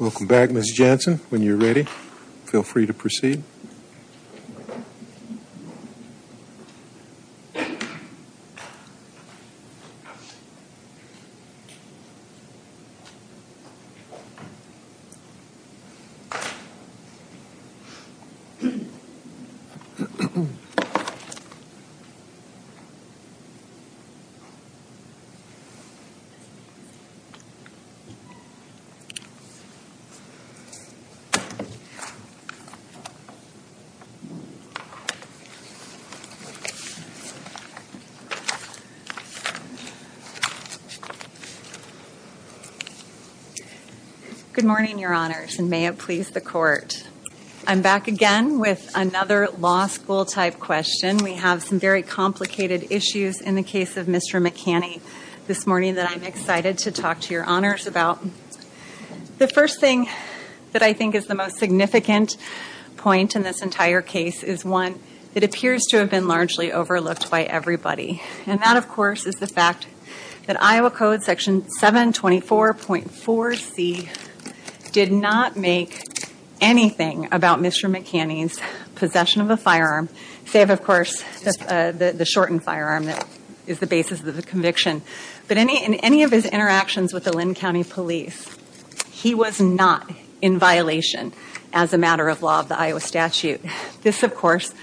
Welcome back, Ms. Jensen. When you're ready, feel free to proceed. Thank you. Good morning, Your Honors, and may it please the Court. I'm back again with another law school-type question. We have some very complicated issues in the case of Mr. Maccani this morning that I'm excited to talk to Your Honors about. The first thing that I think is the most significant point in this entire case is one that appears to have been largely overlooked by everybody. And that, of course, is the fact that Iowa Code Section 724.4c did not make anything about Mr. Maccani's possession of a firearm, save, of course, the shortened firearm that is the basis of the conviction. But in any of his interactions with the Linn County Police, he was not in violation as a matter of law of the Iowa statute. This, of course,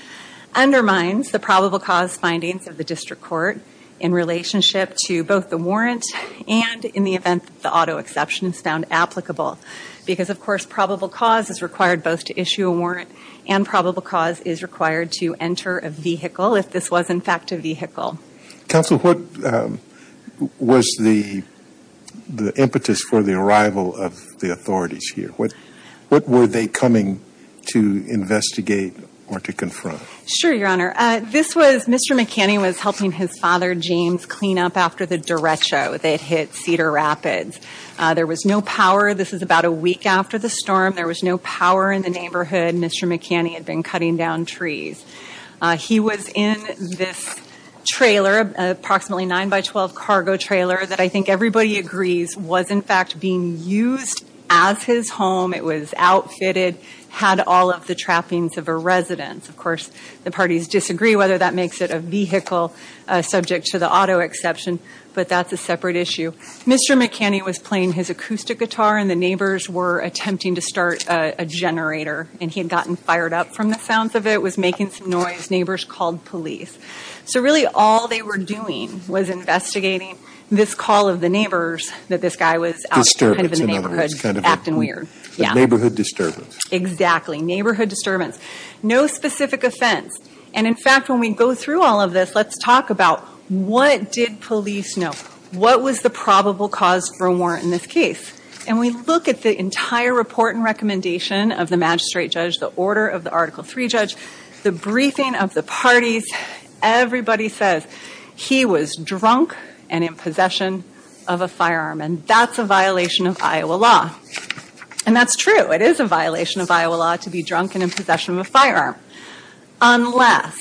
undermines the probable cause findings of the District Court in relationship to both the warrant and in the event that the auto exception is found applicable. Because, of course, probable cause is required both to issue a warrant and probable cause is required to enter a vehicle if this was, in fact, a vehicle. Counsel, what was the impetus for the arrival of the authorities here? What were they coming to investigate or to confront? Sure, Your Honor. This was Mr. Maccani was helping his father, James, clean up after the derecho that hit Cedar Rapids. There was no power. This is about a week after the storm. There was no power in the neighborhood. Mr. Maccani had been cutting down trees. He was in this trailer, approximately 9 by 12 cargo trailer that I think everybody agrees was, in fact, being used as his home. It was outfitted, had all of the trappings of a residence. Of course, the parties disagree whether that makes it a vehicle subject to the auto exception, but that's a separate issue. Mr. Maccani was playing his acoustic guitar and the neighbors were attempting to start a generator and he had gotten fired up from the sounds of it. It was making some noise. Neighbors called police. So, really, all they were doing was investigating this call of the neighbors that this guy was out in the neighborhood acting weird. Disturbance in the neighborhood. It was kind of a neighborhood disturbance. Exactly. Neighborhood disturbance. No specific offense. And, in fact, when we go through all of this, let's talk about what did police know? What was the probable cause for a warrant in this case? And we look at the entire report and recommendation of the magistrate judge, the order of the Article III judge, the briefing of the parties. Everybody says he was drunk and in possession of a firearm. And that's a violation of Iowa law. And that's true. It is a violation of Iowa law to be drunk and in possession of a firearm. Unless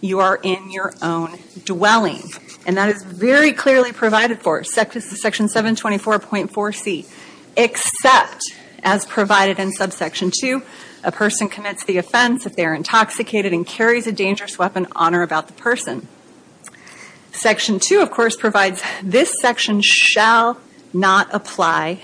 you are in your own dwelling. And that is very clearly provided for. Section 724.4c. Except, as provided in subsection 2, a person commits the offense if they are intoxicated and carries a dangerous weapon on or about the person. Section 2, of course, provides this section shall not apply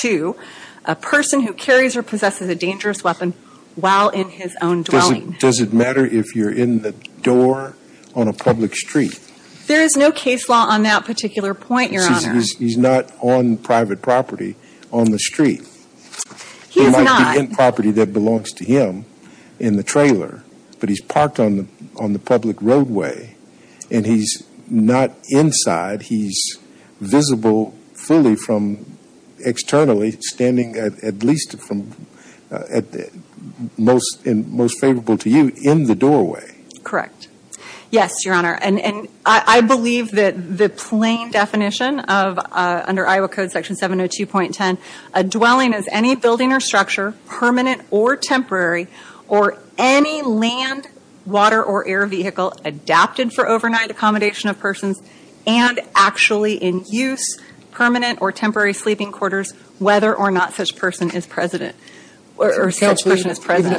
to a person who carries or possesses a dangerous weapon while in his own dwelling. Does it matter if you're in the door on a public street? There is no case law on that particular point, your honor. He's not on private property on the street. He's not. He might be in property that belongs to him in the trailer, but he's parked on the street. He's not visible fully from externally, standing at least most favorable to you in the doorway. Correct. Yes, your honor. And I believe that the plain definition of, under Iowa Code Section 702.10, a dwelling is any building or structure, permanent or temporary, or any land, water, or air vehicle adapted for overnight accommodation of persons and actually in use, permanent or temporary sleeping quarters, whether or not such person is present. Even if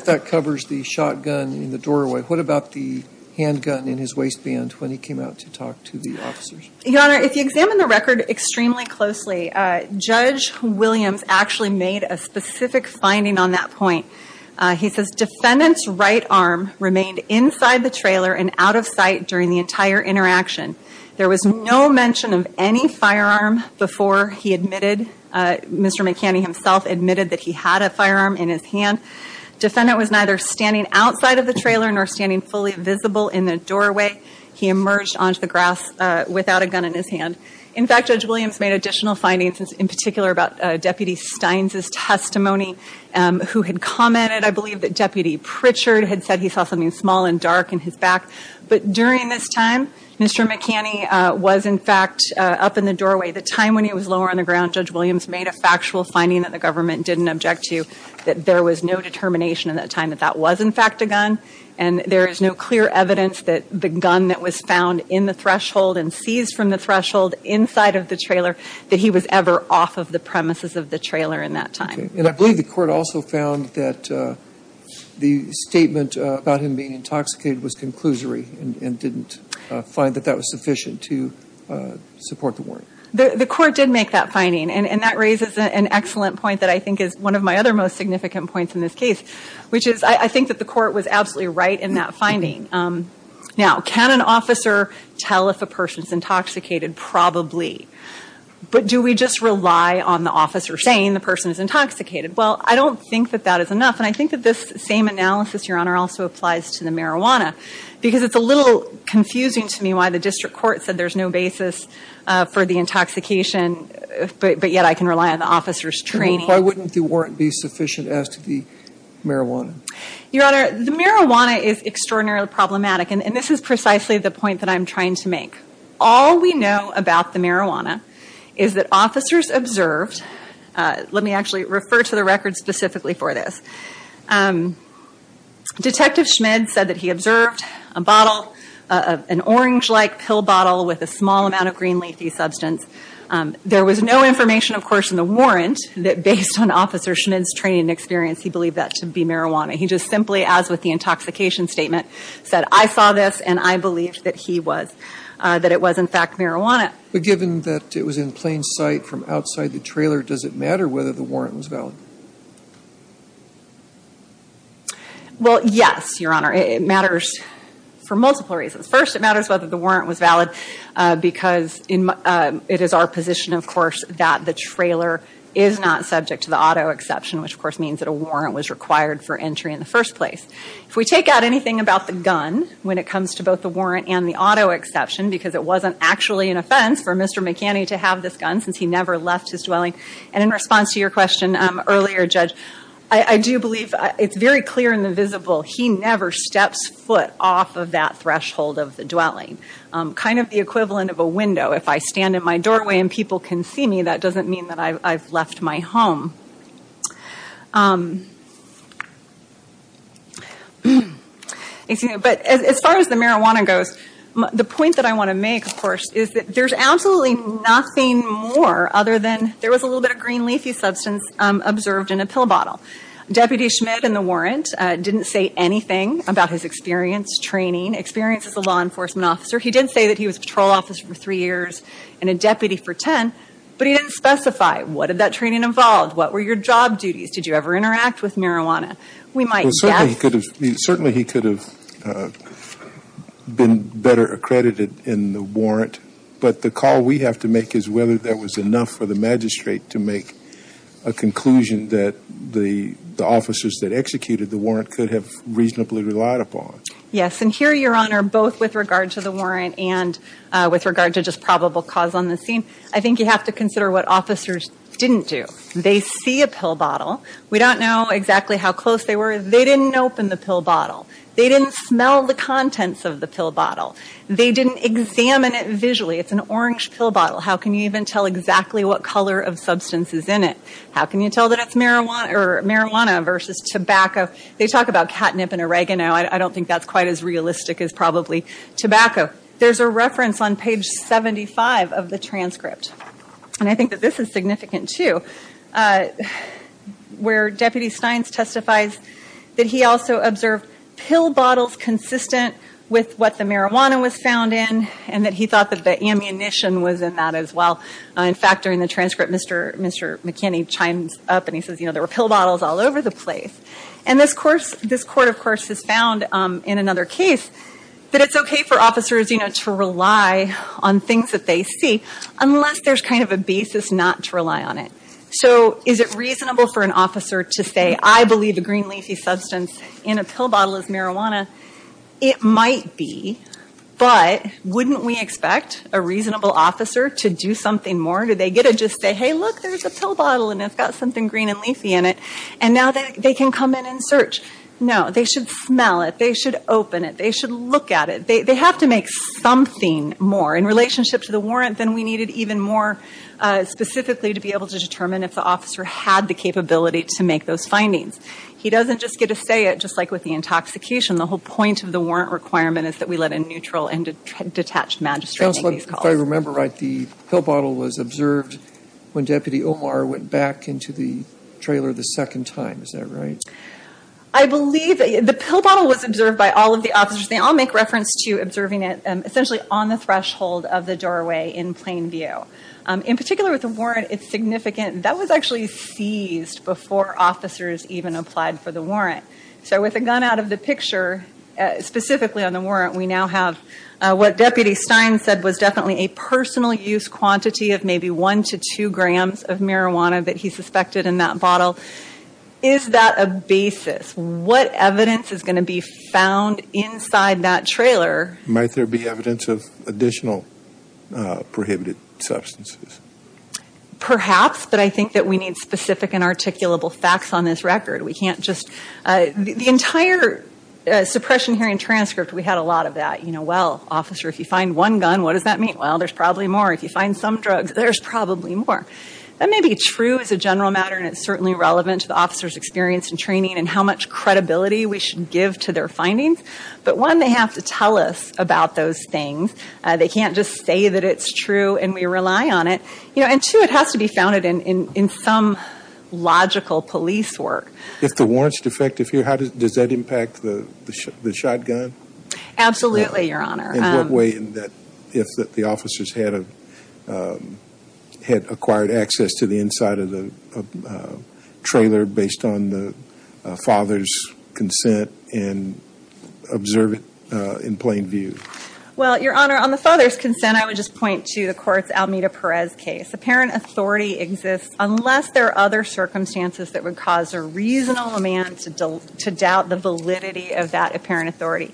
that covers the shotgun in the doorway, what about the handgun in his waistband when he came out to talk to the officers? Your honor, if you examine the record extremely closely, Judge Williams actually made a specific finding on that point. He says, defendant's right arm remained inside the trailer and out of sight during the entire interaction. There was no mention of any firearm before he admitted, Mr. McCanny himself admitted that he had a firearm in his hand. Defendant was neither standing outside of the trailer nor standing fully visible in the doorway. He emerged onto the grass without a gun in his hand. In fact, Judge Williams made additional findings in particular about Deputy Steins' testimony who had commented, I believe that Deputy Pritchard had said he saw something small and dark in his back. But during this time, Mr. McCanny was in fact up in the doorway. The time when he was lower on the ground, Judge Williams made a factual finding that the government didn't object to, that there was no determination at that time that that was in fact a gun. And there is no clear evidence that the gun that was found in the threshold and seized from the threshold inside of the trailer, that he was ever off of the premises of the trailer in that time. And I believe the court also found that the statement about him being intoxicated was conclusory and didn't find that that was sufficient to support the warning. The court did make that finding and that raises an excellent point that I think is one of my other most significant points in this case, which is I think that the court was absolutely right in that finding. Now, can an officer tell if a person is intoxicated? Probably. But do we just rely on the officer saying the person is intoxicated? Well, I don't think that that is enough. And I think that this same analysis, Your Honor, also applies to the marijuana. Because it's a little confusing to me why the district court said there's no basis for the intoxication, but yet I can rely on the officer's training. Why wouldn't the warrant be sufficient as to the marijuana? Your Honor, the marijuana is extraordinarily problematic. And this is precisely the point that I'm trying to make. All we know about the marijuana is that officers observed, let me actually refer to the record specifically for this, Detective Schmid said that he observed a bottle, an orange-like pill bottle with a small amount of green leafy substance. There was no information, of course, in the warrant that based on Officer Schmid's training and experience he believed that to be marijuana. He just simply, as with the intoxication statement, said, I saw this and I believe that he was, that it was in fact marijuana. But given that it was in plain sight from outside the trailer, does it matter whether the warrant was valid? Well, yes, Your Honor. It matters for multiple reasons. First, it matters whether the warrant was valid because it is our position, of course, that the trailer is not subject to the auto exception, which of course means that a warrant was required for entry in the first place. If we take out anything about the gun when it comes to both the warrant and the auto exception, because it wasn't actually an offense for Mr. McAnty to have this gun since he never left his dwelling, and in response to your question earlier, Judge, I do believe it's very clear in the visible he never steps foot off of that threshold of the dwelling. Kind of the equivalent of a window. If I stand in my doorway and people can see me, that doesn't mean that I've left my home. But as far as the marijuana goes, the point that I want to make, of course, is that there's absolutely nothing more other than there was a little bit of green leafy substance observed in a pill bottle. Deputy Schmidt in the warrant didn't say anything about his experience, training, experience as a law enforcement officer. He did say that he was a patrol officer for three years and a deputy for ten, but he didn't specify what did that training involve, what were your job duties, did you ever interact with marijuana. We might guess. Certainly he could have been better accredited in the warrant, but the call we have to make is whether that was enough for the magistrate to make a conclusion that the officers that executed the warrant could have reasonably relied upon. Yes, and here, Your Honor, both with regard to the warrant and with regard to just probable cause on the scene, I think you have to consider what officers didn't do. They see a pill bottle. We don't know exactly how close they were. They didn't open the pill bottle. They didn't smell the contents of the pill bottle. They didn't examine it visually. It's an orange pill bottle. How can you even tell exactly what color of substance is in it? How can you tell that it's marijuana versus tobacco? They talk about catnip and oregano. I don't think that's quite as realistic as probably tobacco. There's a reference on page 75 of the transcript, and I think that this is significant too, where Deputy Steins testifies that he also observed pill bottles consistent with what the marijuana was found in and that he thought that the ammunition was in that as well. In fact, during the transcript, Mr. McKinney chimes up and he says there were pill bottles all over the place. And this court, of course, has found in another case that it's okay for officers to rely on things that they see unless there's kind of a basis not to rely on it. So is it reasonable for an officer to say, I believe the green leafy substance in a pill bottle is marijuana? It might be, but wouldn't we expect a reasonable officer to do something more? Do they get to just say, hey, look, there's a pill bottle and it's got something green and leafy in it, and now they can come in and search? No. They should smell it. They should open it. They should look at it. They have to make something more in relationship to the warrant than we needed even more specifically to be able to determine if the officer had the capability to make those findings. He doesn't just get to say it, just like with the intoxication. The whole point of the warrant requirement is that we let a neutral and detached magistrate make these calls. If I remember right, the pill bottle was observed when Deputy Omar went back into the trailer the second time. Is that right? I believe the pill bottle was observed by all of the officers. They all make reference to observing it essentially on the threshold of the doorway in plain view. In particular with the warrant, it's significant. That was actually seized before officers even applied for the warrant. So with a gun out of the picture, specifically on the warrant, we now a personal use quantity of maybe 1 to 2 grams of marijuana that he suspected in that bottle. Is that a basis? What evidence is going to be found inside that trailer? Might there be evidence of additional prohibited substances? Perhaps, but I think that we need specific and articulable facts on this record. We can't just – the entire suppression hearing transcript, we had a lot of that. Well, officer, if you find some drugs, there's probably more. That may be true as a general matter and it's certainly relevant to the officer's experience and training and how much credibility we should give to their findings. But one, they have to tell us about those things. They can't just say that it's true and we rely on it. And two, it has to be founded in some logical police work. If the warrant's defective here, does that impact the shotgun? Absolutely, Your Honor. In what way, if the officers had acquired access to the inside of the trailer based on the father's consent and observe it in plain view? Well, Your Honor, on the father's consent, I would just point to the court's Almeda Perez case. Apparent authority exists unless there are other circumstances that would cause a reasonable man to doubt the validity of that apparent authority.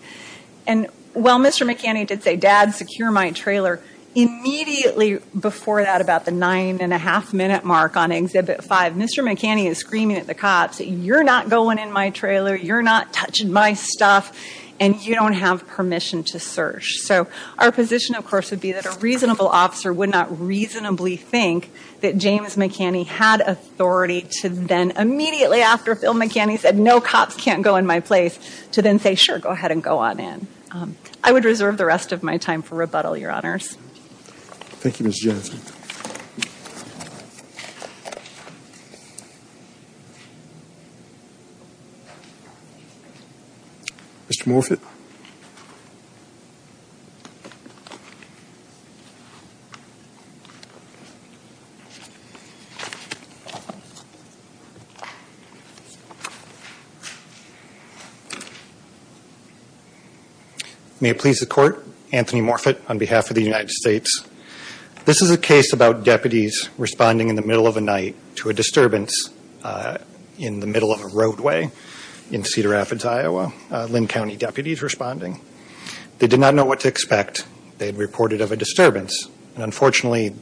And while Mr. McCanny did say, Dad, secure my trailer, immediately before that, about the nine and a half minute mark on Exhibit 5, Mr. McCanny is screaming at the cops, you're not going in my trailer, you're not touching my stuff, and you don't have permission to search. So our position, of course, would be that a reasonable officer would not reasonably think that James McCanny had authority to then, immediately after Phil McCanny said, no, cops can't go in my place, to then say, sure, go ahead and go on in. I would reserve the rest of my time for rebuttal, Your Honors. Thank you, Ms. Jensen. Mr. Morfitt. May it please the Court, Anthony Morfitt on behalf of the United States. This is a case about deputies responding in the middle of the night to a disturbance in the middle of They did not know what to expect. They had reported of a disturbance. And unfortunately,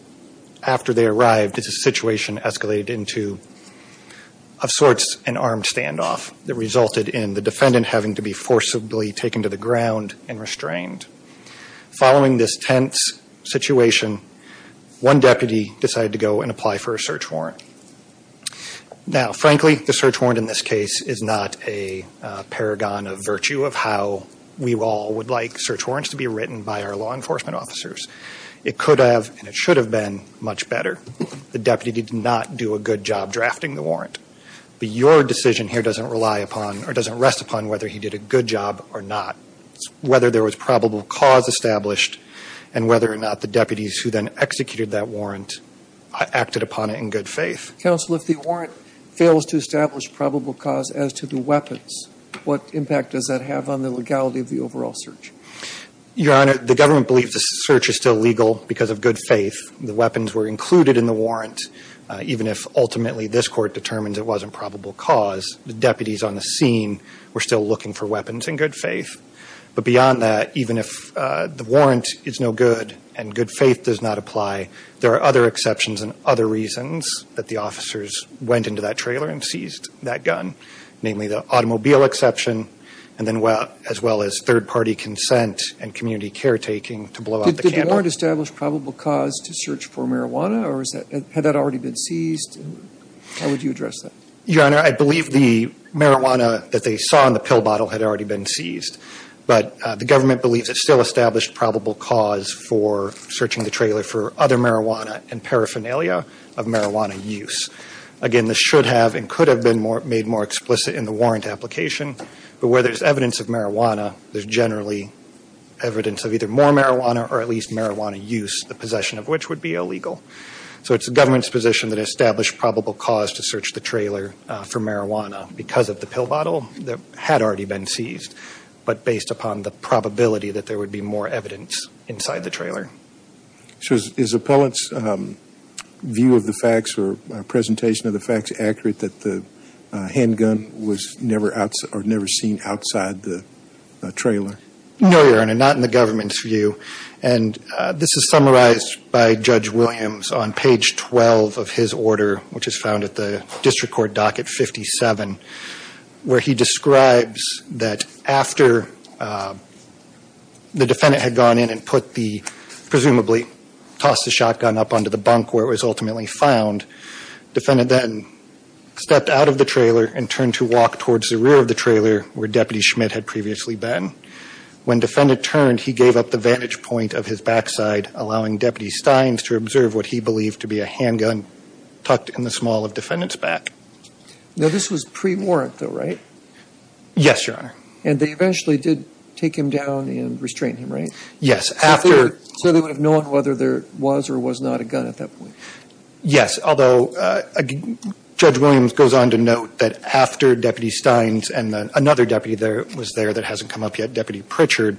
after they arrived, it's a situation escalated into, of sorts, an armed standoff that resulted in the defendant having to be forcibly taken to the ground and restrained. Following this tense situation, one deputy decided to go and apply for a search warrant. Now, frankly, the search warrant in this case is not a paragon of virtue of how we all would like search warrants to be written by our law enforcement officers. It could have, and it should have been, much better. The deputy did not do a good job drafting the warrant. But your decision here doesn't rely upon, or doesn't rest upon, whether he did a good job or not. Whether there was probable cause established, and whether or not the deputies who then executed that warrant acted upon it in good faith. Counsel, if the warrant fails to establish probable cause as to the weapons, what impact does that have on the legality of the overall search? Your Honor, the government believes the search is still legal because of good faith. The weapons were included in the warrant, even if ultimately this Court determines it wasn't probable cause. The deputies on the scene were still looking for weapons in good faith. But beyond that, even if the warrant is no good and good faith does not apply, there are other exceptions and other reasons that the officers went into that trailer and seized that gun. Namely, the automobile exception, and then as well as third-party consent and community caretaking to blow out the candle. Did the warrant establish probable cause to search for marijuana, or had that already been seized? How would you address that? Your Honor, I believe the marijuana that they saw in the pill bottle had already been seized. So it's the government's position that established probable cause to search the trailer for marijuana because of the pill bottle that had already been seized, but based upon the probability that there would be more evidence inside the trailer. So is the appellant's view of the facts or presentation of the facts accurate that the handgun was never seen outside the trailer? No, Your Honor. Not in the government's view. And this is summarized by Judge Williams on page 12 of his order, which is found at the District Court docket 57, where he describes that after the defendant had gone in and put the, presumably tossed the shotgun up onto the bunk where it was ultimately found, defendant then stepped out of the trailer and turned to walk towards the rear of the trailer where Deputy Schmidt had previously been. When defendant turned, he gave up the vantage point of his backside, allowing Deputy Steins to observe what he believed to be a handgun tucked in the small of defendant's back. Now this was pre-warrant though, right? Yes, Your Honor. And they eventually did take him down and restrain him, right? Yes. So they would have known whether there was or was not a gun at that point? Yes, although Judge Williams goes on to note that after Deputy Steins and another deputy that was there that hasn't come up yet, Deputy Pritchard,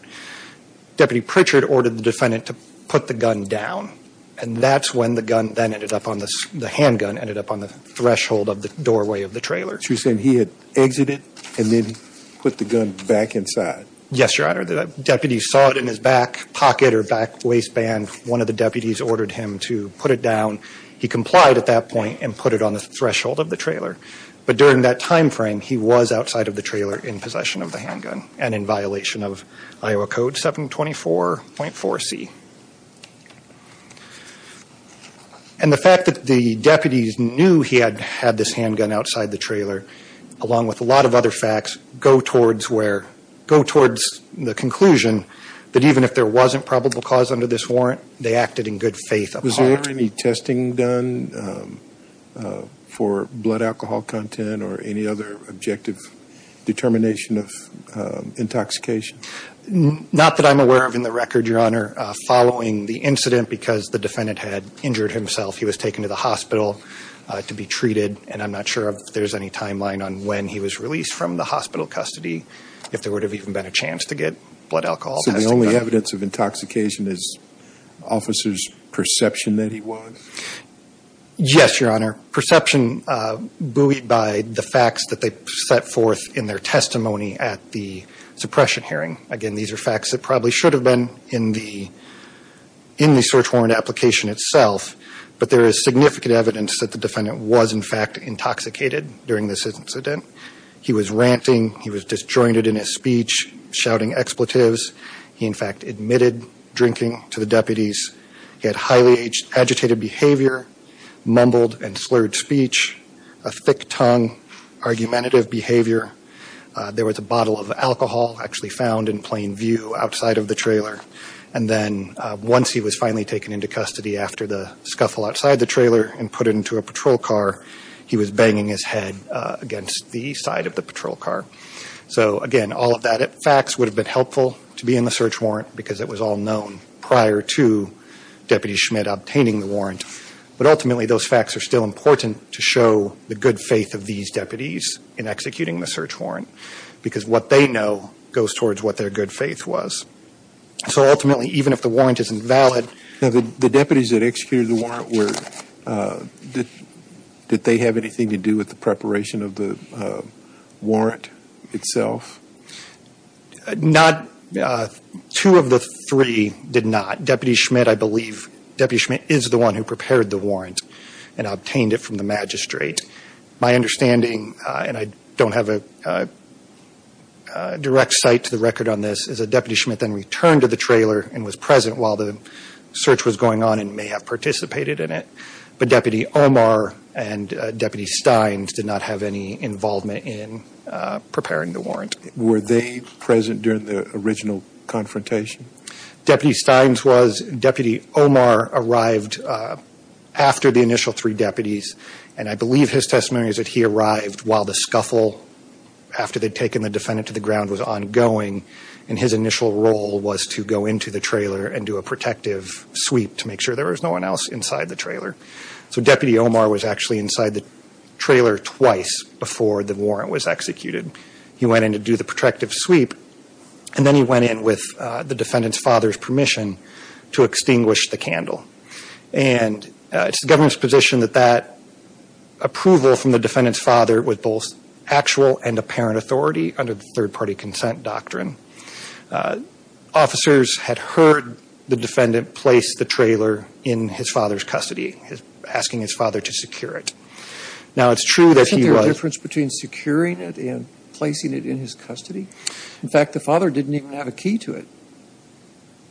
Deputy Pritchard ordered the defendant to put the gun down. And that's when the gun then ended up on the, the handgun ended up on the threshold of the doorway of the trailer. So you're saying he had exited and then put the gun back inside? Yes, Your Honor. The deputy saw it in his back pocket or back waistband. One of the deputies ordered him to put it down. He complied at that point and put it on the threshold of the trailer. But during that time frame, he was outside of the trailer in possession of the handgun and in violation of Iowa Code 724.4C. And the fact that the deputies knew he had had this handgun outside the trailer, along with a lot of other facts, go towards where, go towards the conclusion that even if there wasn't probable cause under this warrant, they acted in good faith. Was there any testing done for blood alcohol content or any other objective determination of intoxication? Not that I'm aware of in the record, Your Honor. Following the incident, because the defendant had injured himself, he was taken to the hospital to be treated. And I'm not sure if there's any timeline on when he was released from the hospital custody, if there would have even been a chance to get blood alcohol testing done. So the only evidence of intoxication is officers' perception that he was? Yes, Your Honor. Perception buoyed by the facts that they set forth in their testimony at the suppression hearing. Again, these are facts that probably should have been in the search warrant application itself. But there is significant evidence that the defendant was, in fact, intoxicated during this incident. He was ranting. He was disjointed in his speech, shouting expletives. He, in fact, admitted drinking to the deputies. He had highly agitated behavior, mumbled and slurred speech, a thick-tongued, argumentative behavior. There was a bottle of alcohol actually found in plain view outside of the trailer. And then once he was finally taken into custody after the scuffle outside the trailer and put into a patrol car, he was banging his head against the side of the patrol car. So again, all of that facts would have been helpful to be in the search warrant because it was all known prior to Deputy Schmidt obtaining the warrant. But ultimately, those facts are still important to show the good faith of these deputies in executing the search warrant because what they know goes towards what their good faith was. So ultimately, even if the warrant isn't valid? The deputies that executed the warrant, did they have anything to do with the preparation of the warrant itself? Two of the three did not. Deputy Schmidt, I believe, is the one who prepared the warrant and obtained it from the magistrate. My understanding, and I don't have a direct site to the record on this, is that Deputy Schmidt then returned to the trailer and was present while the search was going on and may have participated in it. But Deputy Omar and Deputy Steins did not have any involvement in preparing the warrant. Were they present during the original confrontation? Deputy Steins was. Deputy Omar arrived after the initial three deputies. And I believe his testimony is that he arrived while the scuffle, after they'd taken the defendant to the ground, was ongoing. And his initial role was to go into the trailer and do a protective sweep to make sure there was no one else inside the trailer. So Deputy Omar was actually inside the trailer twice before the warrant was executed. He went in to do the protective sweep. And then he went in with the defendant's father's permission to extinguish the candle. And it's the government's position that that approval from the defendant's father was both actual and apparent authority under the third-party consent doctrine. Officers had heard the defendant place the trailer in his father's custody, asking his father to secure it. Now, it's true that he was – Isn't there a difference between securing it and placing it in his custody? In fact, the father didn't even have a key to it.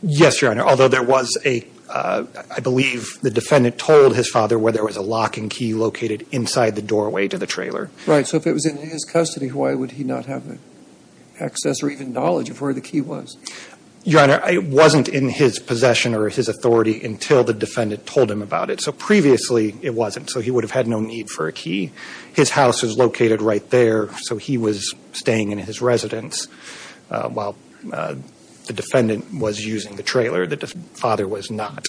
Yes, Your Honor, although there was a – I believe the defendant told his father where there was a locking key located inside the doorway to the trailer. Right. So if it was in his custody, why would he not have access or even knowledge of where the key was? Your Honor, it wasn't in his possession or his authority until the defendant told him about it. So previously, it wasn't. So he would have had no need for a key. His house was located right there. So he was staying in his residence while the defendant was using the trailer. The father was not.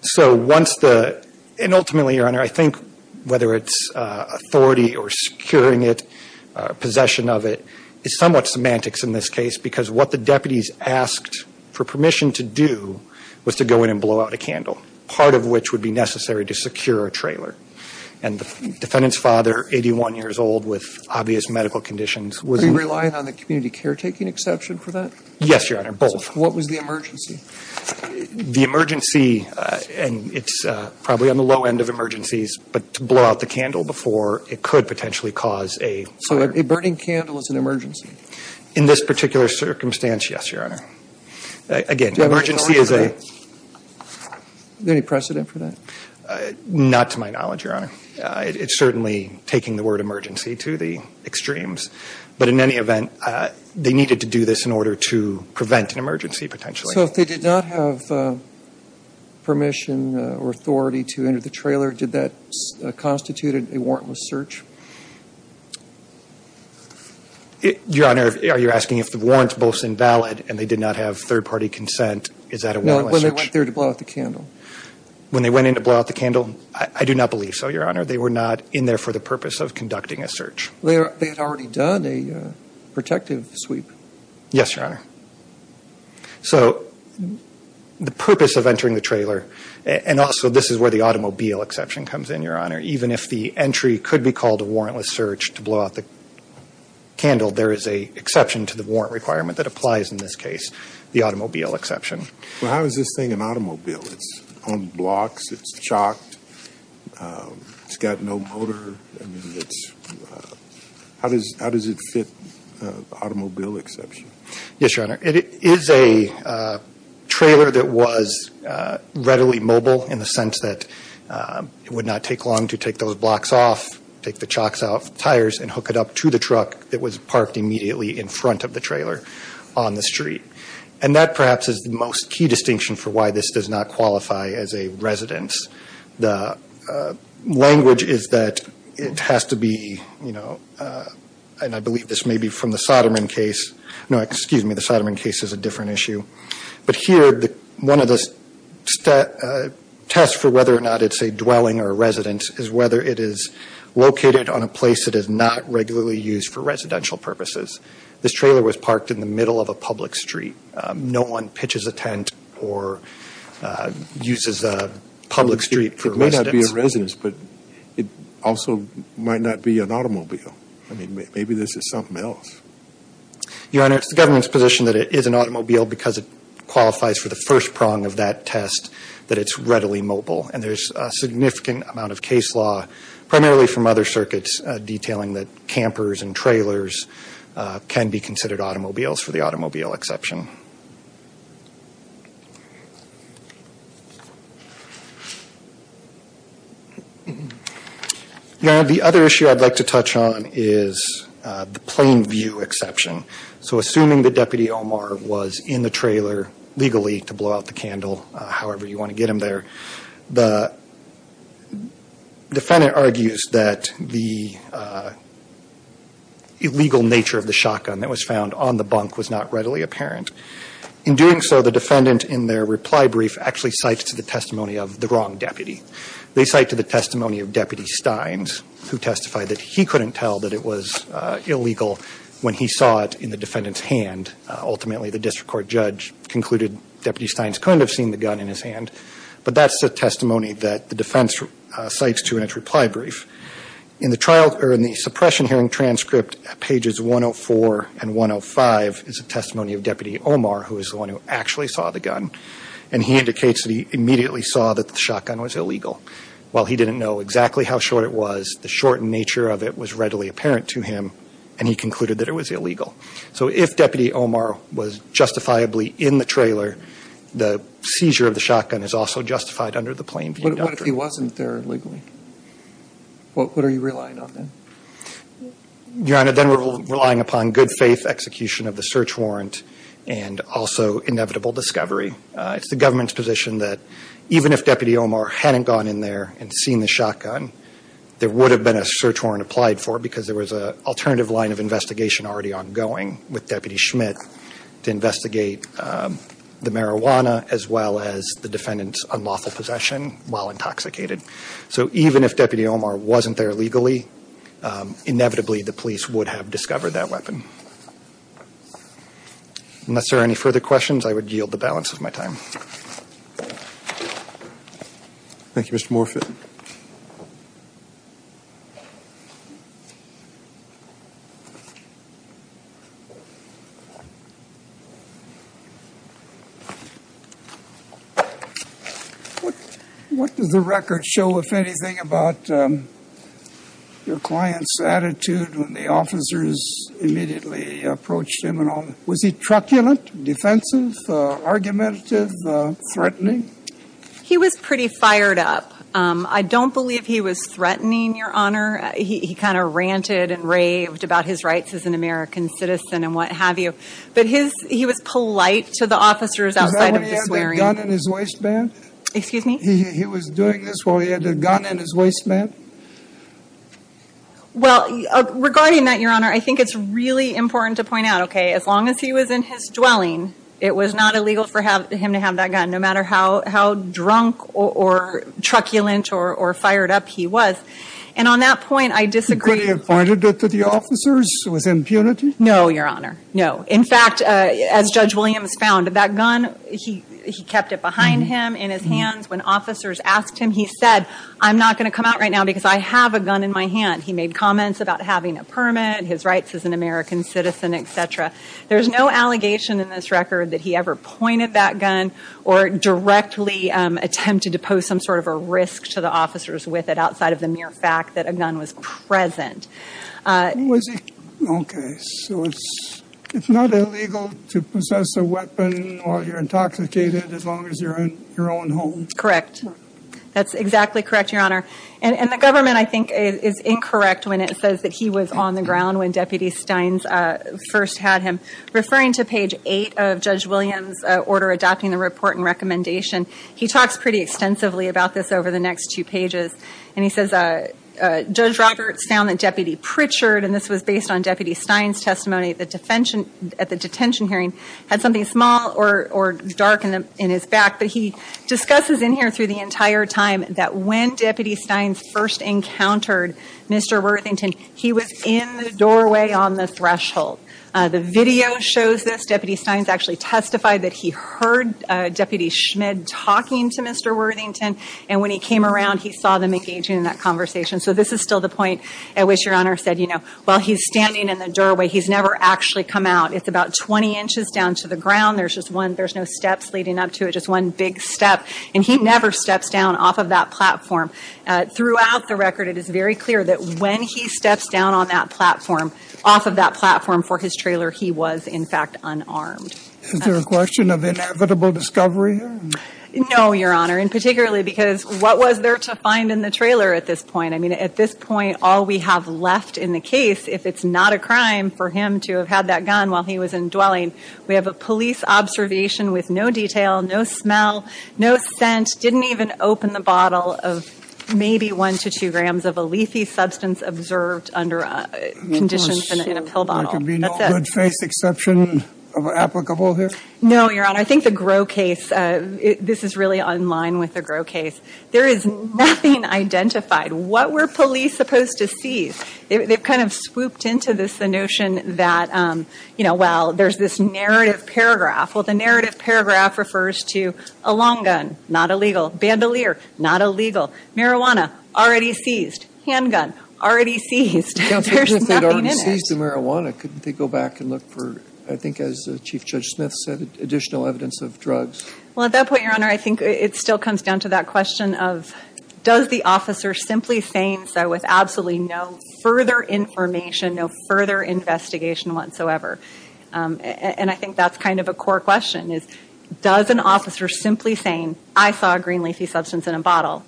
So once the – and ultimately, Your Honor, I think whether it's authority or securing it, possession of it is somewhat semantics in this case, because what the deputies asked for permission to do was to go in and blow out a candle, part of which would be necessary to secure a trailer. And the defendant's father, 81 years old with obvious medical conditions, was – Are you relying on the community caretaking exception for that? Yes, Your Honor, both. What was the emergency? The emergency – and it's probably on the low end of emergencies, but to blow out the candle before it could potentially cause a fire. So a burning candle is an emergency? In this particular circumstance, yes, Your Honor. Again, emergency is a – Do you have any knowledge of that? Is there any precedent for that? Not to my knowledge, Your Honor. It's certainly taking the word emergency to the extremes. But in any event, they needed to do this in order to prevent an emergency potentially. So if they did not have permission or authority to enter the trailer, did that constitute a warrantless search? Your Honor, are you asking if the warrant's both invalid and they did not have third-party consent, is that a warrantless search? No, when they went there to blow out the candle. When they went in to blow out the candle? I do not believe so, Your Honor. They were not in there for the purpose of conducting a search. They had already done a protective sweep. Yes, Your Honor. So the purpose of entering the trailer, and also this is where the automobile exception comes in, Your Honor. Even if the entry could be called a warrantless search to blow out the candle, there is an exception to the warrant requirement that applies in this case, the automobile exception. Well, how is this thing an automobile? It's on blocks, it's chocked, it's got no motor. I mean, how does it fit the automobile exception? Yes, Your Honor. It is a trailer that was readily mobile in the sense that it would not take long to take those blocks off, take the chocks off, tires, and hook it up to the truck that was parked immediately in front of the trailer on the street. And that perhaps is the most key distinction for why this does not qualify as a residence. The language is that it has to be, you know, and I believe this may be from the Soderman case. No, excuse me, the Soderman case is a different issue. But here, one of the tests for whether or not it's a dwelling or a residence is whether it is located on a place that is not regularly used for residential purposes. This trailer was parked in the middle of a public street. No one pitches a tent or uses a public street for residence. It may not be a residence, but it also might not be an automobile. I mean, maybe this is something else. Your Honor, it's the government's position that it is an automobile because it qualifies for the first prong of that test, that it's readily mobile. And there's a significant amount of case law, primarily from other circuits, detailing that campers and trailers can be considered automobiles for the automobile exception. Your Honor, the other issue I'd like to touch on is the plain view exception. So assuming that Deputy Omar was in the trailer legally to blow out the candle, however you want to get him there, the defendant argues that the illegal nature of the shotgun that was found on the bunk was not readily apparent. In doing so, the defendant in their reply brief actually cites to the testimony of the wrong deputy. They cite to the testimony of Deputy Steins, who testified that he couldn't tell that it was illegal when he saw it in the defendant's hand. Ultimately, the district court judge concluded Deputy Steins couldn't have seen the gun in his hand. But that's the testimony that the defense cites to in its reply brief. In the suppression hearing transcript at pages 104 and 105 is a testimony of Deputy Omar, who is the one who actually saw the gun, and he indicates that he immediately saw that the shotgun was illegal. While he didn't know exactly how short it was, the shortened nature of it was readily apparent to him, and he concluded that it was illegal. So if Deputy Omar was justifiably in the trailer, the seizure of the shotgun is also justified under the plain view doctrine. But what if he wasn't there legally? What are you relying on then? Your Honor, then we're relying upon good faith execution of the search warrant and also inevitable discovery. It's the government's position that even if Deputy Omar hadn't gone in there and seen the shotgun, there would have been a search warrant applied for because there was an alternative line of investigation already ongoing with Deputy Schmidt to investigate the marijuana as well as the defendant's unlawful possession while intoxicated. So even if Deputy Omar wasn't there legally, inevitably the police would have discovered that weapon. Unless there are any further questions, I would yield the balance of my time. Thank you, Mr. Morfitt. What does the record show, if anything, about your client's attitude when the officers immediately approached him? Was he truculent, defensive, argumentative, threatening? He was pretty fired up. I don't believe he was threatening, Your Honor. He kind of ranted and raved about his rights as an American citizen and what have you. But he was polite to the officers outside of the swearing- Was that when he had the gun in his waistband? Excuse me? He was doing this while he had the gun in his waistband? Well, regarding that, Your Honor, I think it's really important to point out, okay, as long as he was in his dwelling, it was not illegal for him to have that gun no matter how drunk or truculent or fired up he was. And on that point, I disagree- Could he have pointed it to the officers with impunity? No, Your Honor. No. In fact, as Judge Williams found, that gun, he kept it behind him, in his hands. When officers asked him, he said, I'm not going to come out right now because I have a gun in my hand. He made comments about having a permit, his rights as an American citizen, et cetera. There's no allegation in this record that he ever pointed that gun or directly attempted to pose some sort of a risk to the officers with it outside of the mere fact that a gun was present. Was he- Okay. It's not illegal to possess a weapon while you're intoxicated as long as you're in your own home? Correct. That's exactly correct, Your Honor. And the government, I think, is incorrect when it says that he was on the ground when Deputy Steins first had him. Referring to page 8 of Judge Williams' order adopting the report and recommendation, he talks pretty extensively about this over the next two pages. And he says, Judge Roberts found that Deputy Pritchard, and this was based on Deputy Steins' testimony at the detention hearing, had something small or dark in his back. But he discusses in here through the entire time that when Deputy Steins first encountered Mr. Worthington, he was in the doorway on the threshold. The video shows this. Deputy Steins actually testified that he heard Deputy Schmid talking to Mr. Worthington, and when he came around, he saw them engaging in that conversation. So this is still the point at which Your Honor said, you know, while he's standing in the doorway, he's never actually come out. It's about 20 inches down to the ground. There's just one – there's no steps leading up to it, just one big step. And he never steps down off of that platform. Throughout the record, it is very clear that when he steps down on that platform, off of that platform for his trailer, he was, in fact, unarmed. Is there a question of inevitable discovery here? No, Your Honor, and particularly because what was there to find in the trailer at this point? I mean, at this point, all we have left in the case, if it's not a crime for him to have had that gun while he was indwelling, we have a police observation with no detail, no smell, no scent, didn't even open the bottle of maybe one to two grams of a leafy substance observed under conditions in a pill bottle. There could be no good-faced exception of applicable here? No, Your Honor. I think the Grow case – this is really in line with the Grow case. There is nothing identified. What were police supposed to seize? They've kind of swooped into this, the notion that, you know, well, there's this narrative paragraph. Well, the narrative paragraph refers to a long gun, not illegal. Bandolier, not illegal. Marijuana, already seized. Handgun, already seized. There's nothing in it. If they'd already seized the marijuana, couldn't they go back and look for, I think as Chief Judge Smith said, additional evidence of drugs? Well, at that point, Your Honor, I think it still comes down to that question of does the officer simply saying so with absolutely no further information, no further investigation whatsoever? And I think that's kind of a core question is, does an officer simply saying, I saw a green leafy substance in a bottle,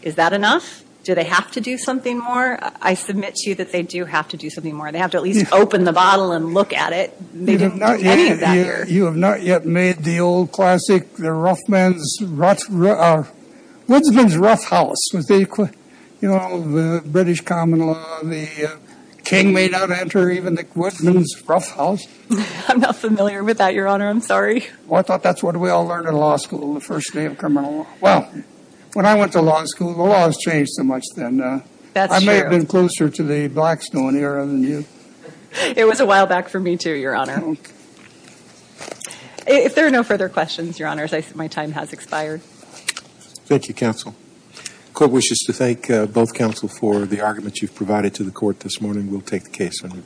is that enough? Do they have to do something more? I submit to you that they do have to do something more. They have to at least open the bottle and look at it. They didn't do any of that here. You have not yet made the old classic, the rough man's, woodsman's rough house. You know, the British common law, the king may not enter even the woodsman's rough house. I'm not familiar with that, Your Honor. I'm sorry. Well, I thought that's what we all learned in law school on the first day of criminal law. Well, when I went to law school, the laws changed so much then. I may have been closer to the Blackstone era than you. It was a while back for me too, Your Honor. If there are no further questions, Your Honors, my time has expired. Thank you, counsel. The court wishes to thank both counsel for the arguments you've provided to the court this morning. We'll take the case under advisement.